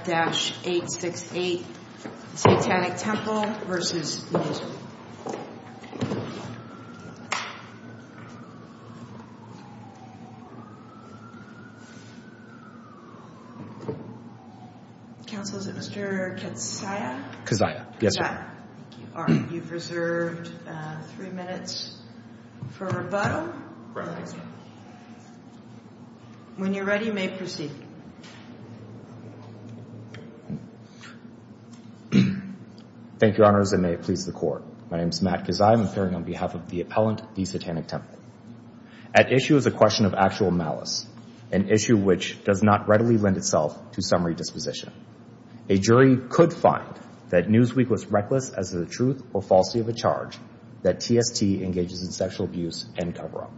868 Satanic Temple, Inc. v. Newsweek Thank you, Your Honors, and may it please the Court. My name is Matt Gazzai. I'm appearing on behalf of the appellant, the Satanic Temple. At issue is a question of actual malice, an issue which does not readily lend itself to some redisposition. A jury could find that Newsweek was reckless as to the truth or falsity of a charge that TST engages in sexual abuse and cover-up.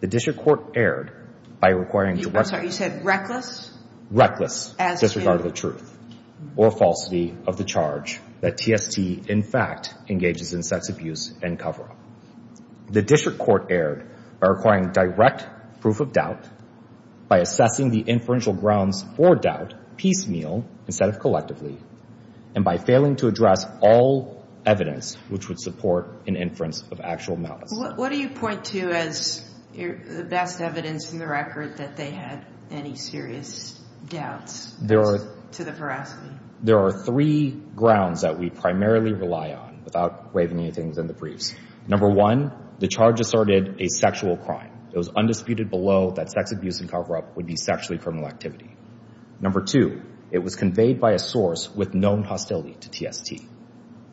The District Court erred by requiring the West... I'm sorry, you said reckless? Reckless as to the truth or falsity of the charge that TST, in fact, engages in sex abuse and cover-up. The District Court erred by requiring direct proof of doubt, by assessing the inferential grounds for doubt piecemeal instead of collectively, and by failing to address all evidence which would support an inference of actual malice. What do you point to as the best evidence in the record that they had any serious doubts to the veracity? There are three grounds that we primarily rely on, without waving anything within the briefs. Number one, the charge asserted a sexual crime. It was undisputed below that sex abuse and cover-up would be sexually criminal activity. Number two, it was conveyed by a source with known hostility to TST.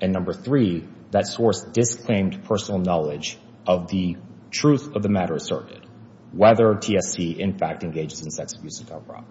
And number three, that source disclaimed personal knowledge of the truth of the matter asserted, whether TST, in fact, engages in sex abuse and cover-up.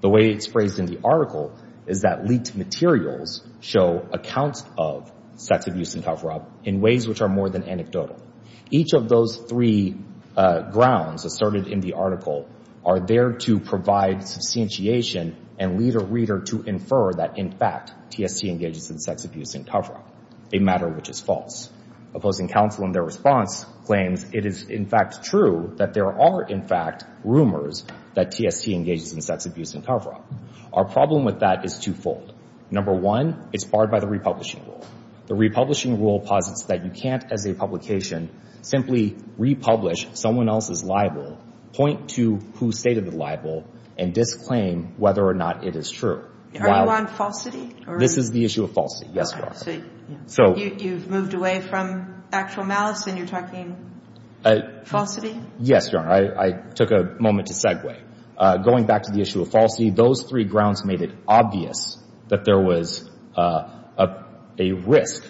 The way it's phrased in the article is that leaked materials show accounts of sex abuse and cover-up in ways which are more than anecdotal. Each of those three grounds asserted in the article are there to provide substantiation and lead a reader to infer that, in fact, TST engages in sex abuse and cover-up, a matter which is false. Opposing counsel in their response claims it is, in fact, true that there are, in fact, rumors that TST engages in sex abuse and cover-up. Our problem with that is twofold. Number one, it's barred by the republishing rule. The republishing rule posits that you can't, as a publication, simply republish someone else's libel, point to who stated the libel, and disclaim whether or not it is true. Are you on falsity? This is the issue of falsity, yes, Your Honor. So you've moved away from actual malice and you're talking falsity? Yes, Your Honor. I took a moment to segue. Going back to the issue of falsity, those three grounds made it obvious that there was a risk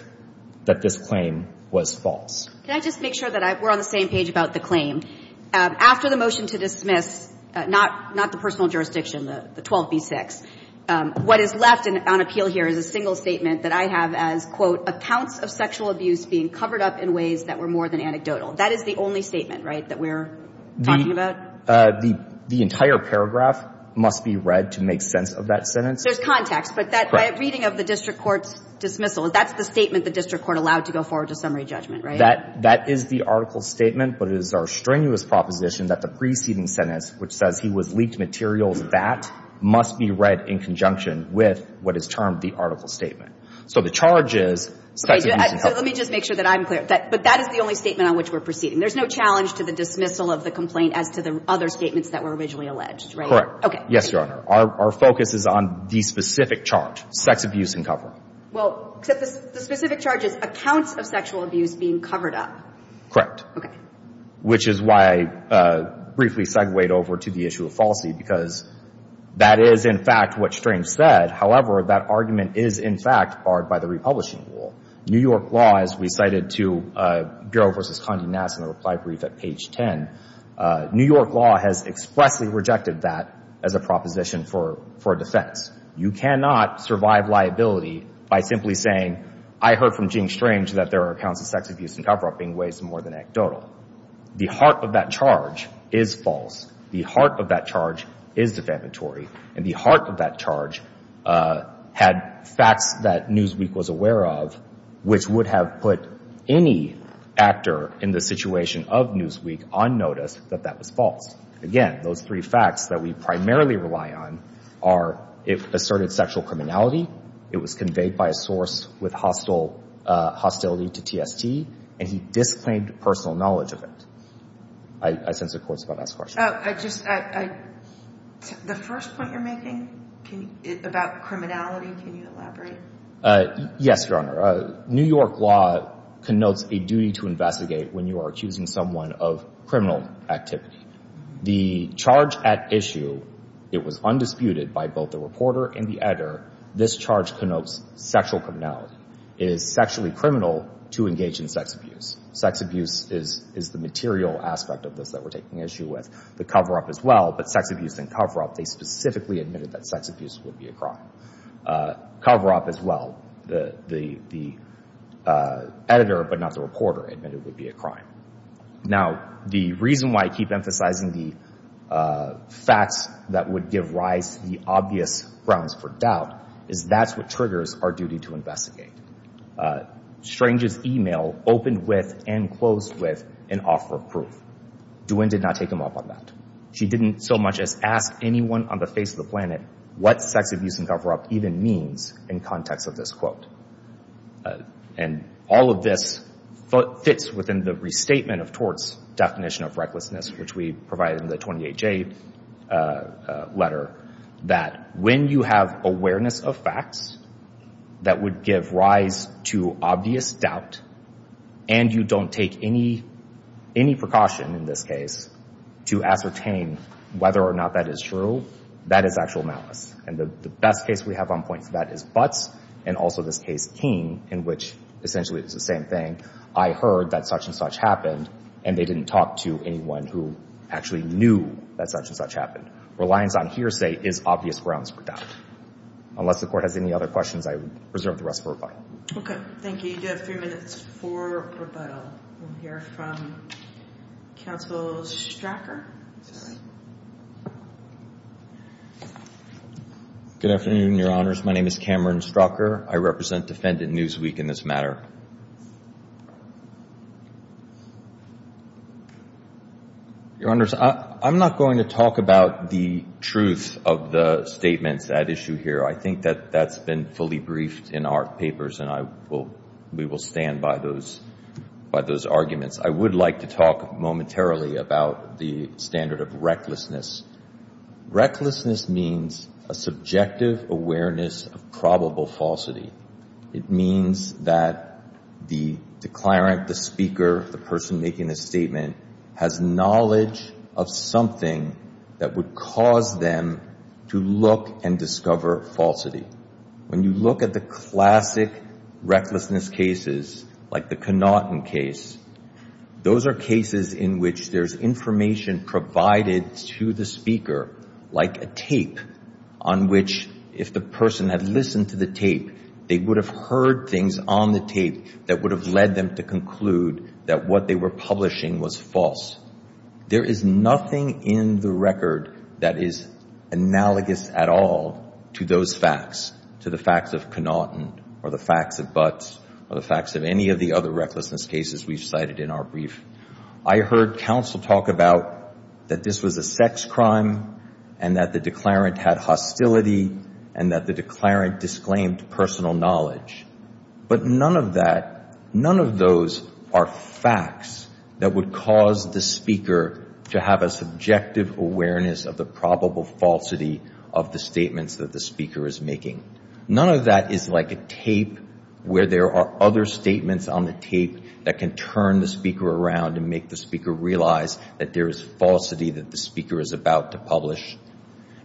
that this claim was false. Can I just make sure that we're on the same page about the claim? After the motion to dismiss, not the personal jurisdiction, the 12b-6, what is left on appeal here is a single statement that I have as, quote, accounts of sexual abuse being covered up in ways that were more than anecdotal. That is the only statement, right, that we're talking about? The entire paragraph must be read to make sense of that sentence. There's context, but that reading of the district court's dismissal, that's the statement the district court allowed to go forward to summary judgment, right? That is the article's statement, but it is our strenuous proposition that the preceding sentence, which says he was leaked materials of that, must be read in conjunction with what is termed the article's statement. So the charge is sex abuse and cover. Let me just make sure that I'm clear. But that is the only statement on which we're proceeding. There's no challenge to the dismissal of the complaint as to the other statements that were originally alleged, right? Correct. Okay. Yes, Your Honor. Our focus is on the specific charge, sex abuse and cover. Well, except the specific charge is accounts of sexual abuse being covered up. Okay. Which is why I briefly segwayed over to the issue of falsity, because that is, in fact, what Strange said. However, that argument is, in fact, barred by the republishing rule. New York law, as we cited to Garo versus Condi-Nass in the reply brief at page 10, New York law has expressly rejected that as a proposition for defense. You cannot survive liability by simply saying, I heard from Gene Strange that there are accounts of sex abuse and cover-up being raised more than anecdotal. The heart of that charge is false. The heart of that charge is defamatory. And the heart of that charge had facts that Newsweek was aware of, which would have put any actor in the situation of Newsweek on notice that that was false. Again, those three facts that we primarily rely on are, it asserted sexual criminality, it was conveyed by a source with hostility to TST, and he disclaimed personal knowledge of it. I sense a court's about to ask a question. Oh, I just, I, the first point you're making about criminality, can you elaborate? Yes, Your Honor. New York law connotes a duty to investigate when you are accusing someone of criminal activity. The charge at issue, it was undisputed by both the reporter and the editor, this charge connotes sexual criminality. It is sexually criminal to engage in sex abuse. Sex abuse is the material aspect of this that we're taking issue with. The cover-up as well, but sex abuse and cover-up, they specifically admitted that sex abuse would be a crime. Cover-up as well, the editor but not the reporter admitted would be a crime. Now, the reason why I keep emphasizing the facts that would give rise to the obvious grounds for doubt is that's what triggers our duty to investigate. Strange's email opened with and closed with an offer of proof. DeWin did not take him up on that. She didn't so much as ask anyone on the face of the planet what sex abuse and cover-up even means in context of this quote. And all of this fits within the restatement of Tort's definition of recklessness, which we provide in the 28J letter, that when you have awareness of facts that would give rise to obvious doubt and you don't take any precaution in this case to ascertain whether or not that is true, that is actual malice. And the best case we have on point for that is Butts and also this case King in which essentially it's the same thing. I heard that such and such happened and they didn't talk to anyone who actually knew that such and such happened. Reliance on hearsay is obvious grounds for doubt. Unless the court has any other questions, I would reserve the rest for rebuttal. Okay. Thank you. You have three minutes for rebuttal. We'll hear from Counsel Strocker. Good afternoon, Your Honors. My name is Cameron Strocker. I represent Defendant Newsweek in this matter. Your Honors, I'm not going to talk about the truth of the statements at issue here. I think that that's been fully briefed in our papers and we will stand by those arguments. I would like to talk momentarily about the standard of recklessness. Recklessness means a subjective awareness of probable falsity. It means that the declarant, the speaker, the person making the statement has knowledge of something that would cause them to look and discover falsity. When you look at the classic recklessness cases like the Connaughton case, those are cases in which there's information provided to the speaker like a tape on which if the person had listened to the tape, they would have heard things on the tape that would have led them to conclude that what they were publishing was false. There is nothing in the record that is analogous at all to those facts, to the facts of Connaughton or the facts of Butts or the facts of any of the other recklessness cases we've cited in our brief. I heard counsel talk about that this was a sex crime and that the declarant had hostility and that the declarant disclaimed personal knowledge. But none of that, none of those are facts that would cause the speaker to have a subjective awareness of the probable falsity of the statements that the speaker is making. None of that is like a tape where there are other statements on the tape that can turn the speaker around and make the speaker realize that there is falsity that the speaker is about to publish.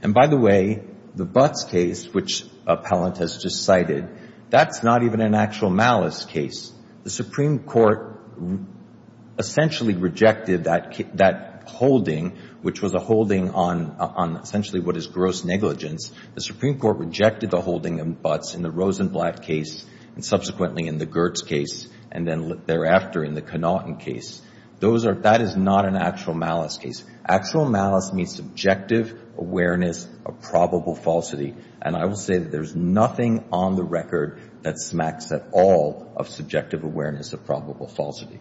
And by the way, the Butts case, which appellant has just cited, that's not even an actual malice case. The Supreme Court essentially rejected that holding which was a holding on essentially what is gross negligence. The Supreme Court rejected the holding of Butts in the Rosenblatt case and subsequently in the Gertz case and then thereafter in the Connaughton case. Those are, that is not an actual malice case. Actual malice means subjective awareness of probable falsity. And I will say that there is nothing on the record that smacks at all of subjective awareness of probable falsity.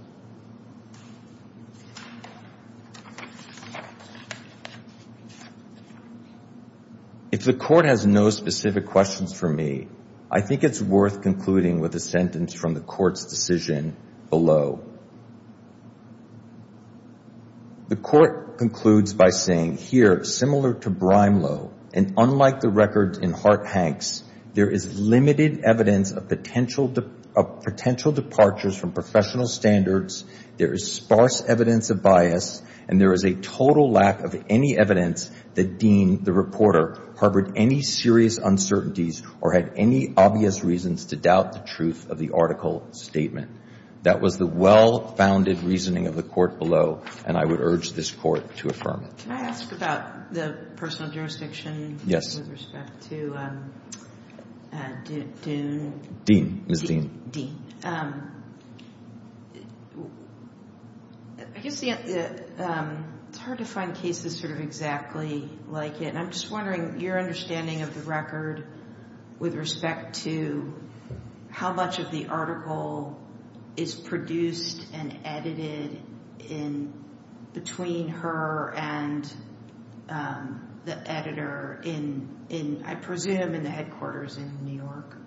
If the Court has no specific questions for me, I think it's worth concluding with a sentence from the Court's decision below. The Court concludes by saying, here, similar to Brimelow and unlike the record in Hart-Hanks, there is limited evidence of potential departures from professional standards, there is sparse evidence of bias, and there is a total lack of any evidence that Dean, the reporter, harbored any serious uncertainties or had any obvious reasons to doubt the truth of the article statement. That was the well-founded reasoning of the Court below, and I would urge this Court to affirm it. Can I ask about the personal jurisdiction? Yes. With respect to Dean? Dean, Ms. Dean. Dean. I guess it's hard to find cases sort of exactly like it. And I'm just wondering your understanding of the record with respect to how much of the article is produced and edited in between her and the editor in, I presume, in the headquarters in New York?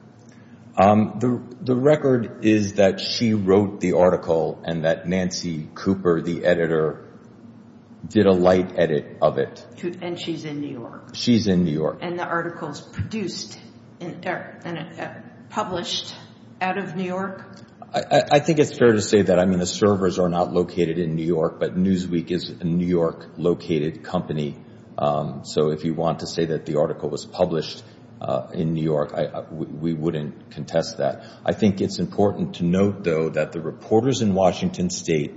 The record is that she wrote the article and that Nancy Cooper, the editor, did a light edit of it. And she's in New York. She's in New York. And the article is produced and published out of New York? I think it's fair to say that. I mean, the servers are not located in New York, but Newsweek is a New York-located company. So if you want to say that the article was published in New York, we wouldn't contest that. I think it's important to note, though, that the reporters in Washington State,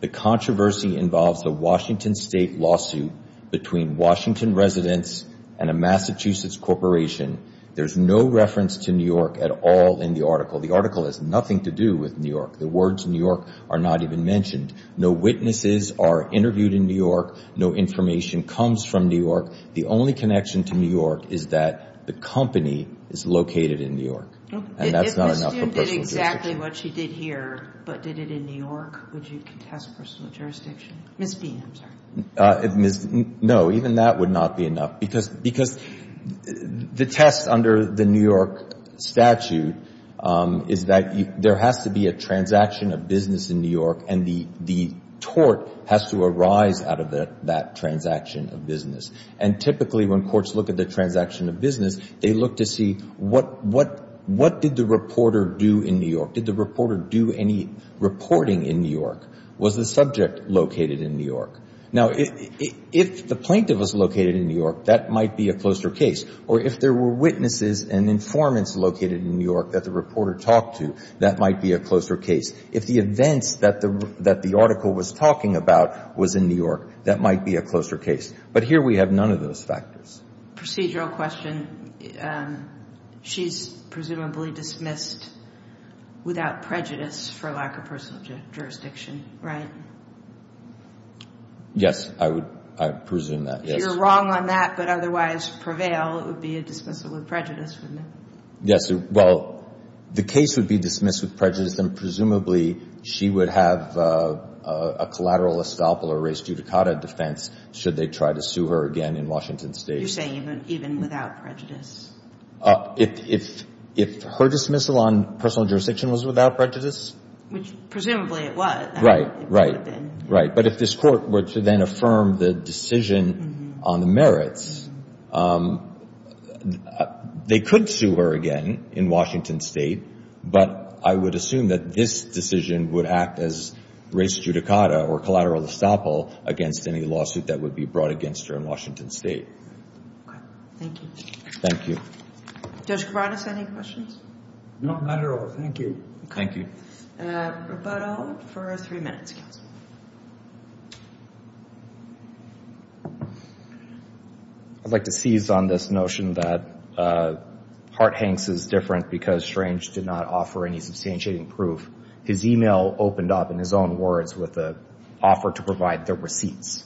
the controversy involves the Washington State lawsuit between Washington residents and a Massachusetts corporation. There's no reference to New York at all in the article. The article has nothing to do with New York. The words New York are not even mentioned. No witnesses are interviewed in New York. No information comes from New York. The only connection to New York is that the company is located in New York. And that's not enough for personal jurisdiction. If Ms. Dean did exactly what she did here, but did it in New York, would you contest personal jurisdiction? Ms. Dean, I'm sorry. No, even that would not be enough, because the test under the New York statute is that there has to be a transaction of business in New York, and the tort has to arise out of that transaction of business. And typically, when courts look at the transaction of business, they look to see what did the reporter do in New York? Did the reporter do any reporting in New York? Was the subject located in New York? Now, if the plaintiff was located in New York, that might be a closer case. Or if there were witnesses and informants located in New York that the reporter talked to, that might be a closer case. If the events that the article was talking about was in New York, that might be a closer case. But here we have none of those factors. Procedural question. She's presumably dismissed without prejudice for lack of personal jurisdiction, right? Yes, I would presume that, yes. If you're wrong on that, but otherwise prevail, it would be a dismissal with prejudice, wouldn't it? Yes, well, the case would be dismissed with prejudice, and presumably she would have a collateral estoppel or res judicata defense should they try to sue her again in Washington State. You're saying even without prejudice? If her dismissal on personal jurisdiction was without prejudice. Which presumably it was. Right, right, right. But if this court were to then affirm the decision on the merits, they could sue her again in Washington State, but I would assume that this decision would act as res judicata or collateral estoppel against any lawsuit that would be brought against her in Washington State. Okay, thank you. Thank you. Judge Kovanec, any questions? No, not at all. Thank you. Thank you. Raboteau for three minutes. I'd like to seize on this notion that Hart-Hanks is different because Strange did not offer any substantiating proof. His email opened up in his own words with an offer to provide the receipts.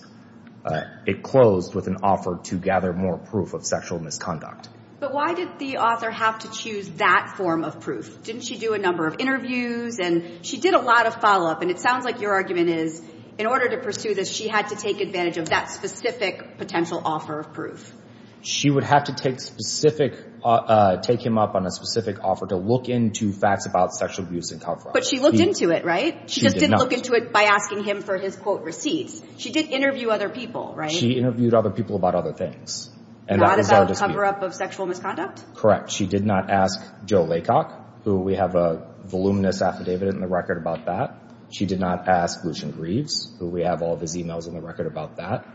It closed with an offer to gather more proof of sexual misconduct. But why did the author have to choose that form of proof? Didn't she do a number of interviews? And she did a lot of follow-up. And it sounds like your argument is, in order to pursue this, she had to take advantage of that specific potential offer of proof. She would have to take specific, take him up on a specific offer to look into facts about sexual abuse and cover-up. But she looked into it, right? She just didn't look into it by asking him for his, quote, receipts. She did interview other people, right? She interviewed other people about other things. Not about cover-up of sexual misconduct? Correct. She did not ask Joe Laycock, who we have a voluminous affidavit in the record about that. She did not ask Lucian Greaves, who we have all of his emails in the record about that.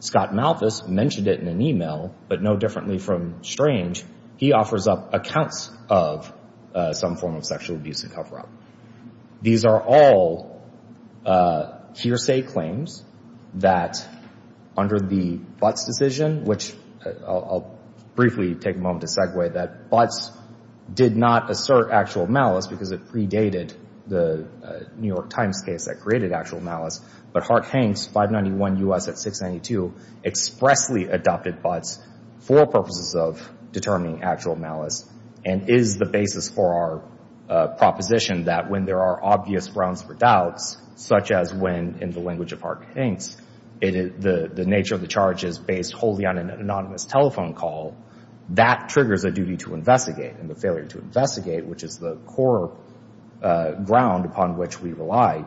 Scott Malthus mentioned it in an email, but no differently from Strange, he offers up accounts of some form of sexual abuse and cover-up. These are all hearsay claims that under the Butts decision, which I'll briefly take a moment to segue that Butts did not assert actual malice because it predated the New York Times case that created actual malice, but Hark Hanks, 591 U.S. at 692, expressly adopted Butts for purposes of determining actual malice and is the basis for our proposition that when there are obvious grounds for doubts, such as when in the language of Hark Hanks, the nature of the charge is based wholly on an anonymous telephone call, that triggers a duty to investigate, and the failure to investigate, which is the core ground upon which we rely,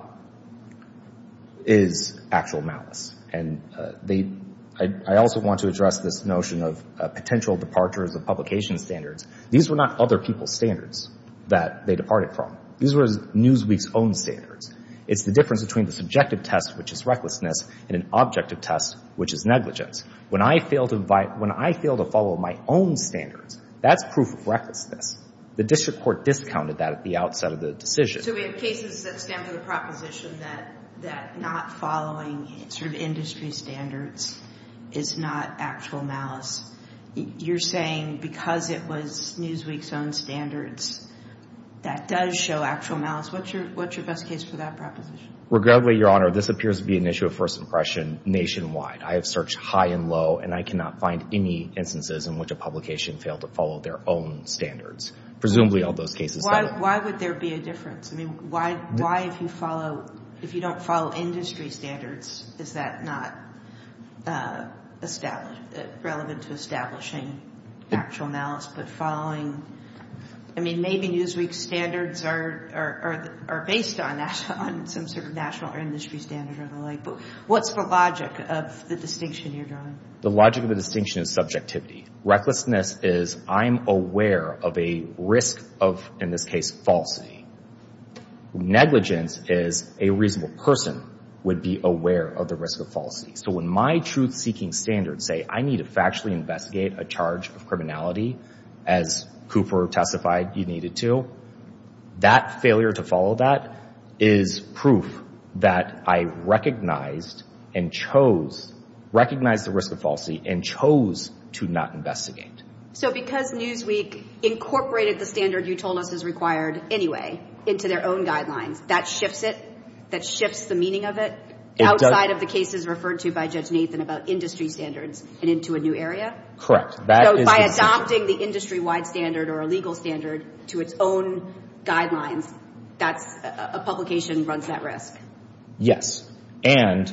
is actual malice. And I also want to address this notion of potential departures of publication standards. These were not other people's standards that they departed from. These were Newsweek's own standards. It's the difference between the subjective test, which is recklessness, and an objective test, which is negligence. When I fail to follow my own standards, that's proof of recklessness. The district court discounted that at the outset of the decision. So we have cases that stand to the proposition that not following sort of industry standards is not actual malice. You're saying because it was Newsweek's own standards, that does show actual malice. What's your best case for that proposition? Regrettably, Your Honor, this appears to be an issue of first impression nationwide. I have searched high and low, and I cannot find any instances in which a publication failed to follow their own standards. Presumably, all those cases. Why would there be a difference? I mean, why if you follow, if you don't follow industry standards, is that not relevant to establishing actual malice, but following, I mean, maybe Newsweek's standards are based on that, on some sort of national or industry standard or the like. What's the logic of the distinction you're drawing? The logic of the distinction is subjectivity. Recklessness is I'm aware of a risk of, in this case, falsity. Negligence is a reasonable person would be aware of the risk of falsity. So when my truth-seeking standards say I need to factually investigate a charge of criminality, as Cooper testified, you needed to, that failure to follow that is proof that I recognized and chose, recognized the risk of falsity and chose to not investigate. So because Newsweek incorporated the standard you told us is required anyway into their own guidelines, that shifts it? That shifts the meaning of it outside of the cases referred to by Judge Nathan about industry standards and into a new area? Correct. So by adopting the industry-wide standard or a legal standard to its own guidelines, that's, a publication runs that risk? Yes. And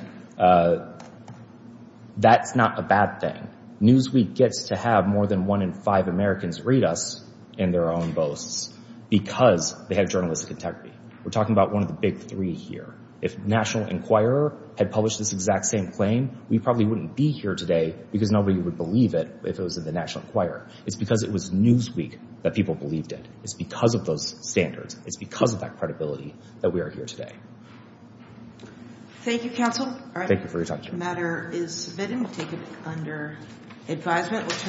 that's not a bad thing. Newsweek gets to have more than one in five Americans read us in their own posts because they have journalistic integrity. We're talking about one of the big three here. If National Enquirer had published this exact same claim, we probably wouldn't be here today because nobody would believe it if it was in the National Enquirer. It's because it was Newsweek that people believed it. It's because of those standards. It's because of that credibility that we are here today. Thank you, counsel. Thank you for your time. The matter is submitted and we'll take it under advisement.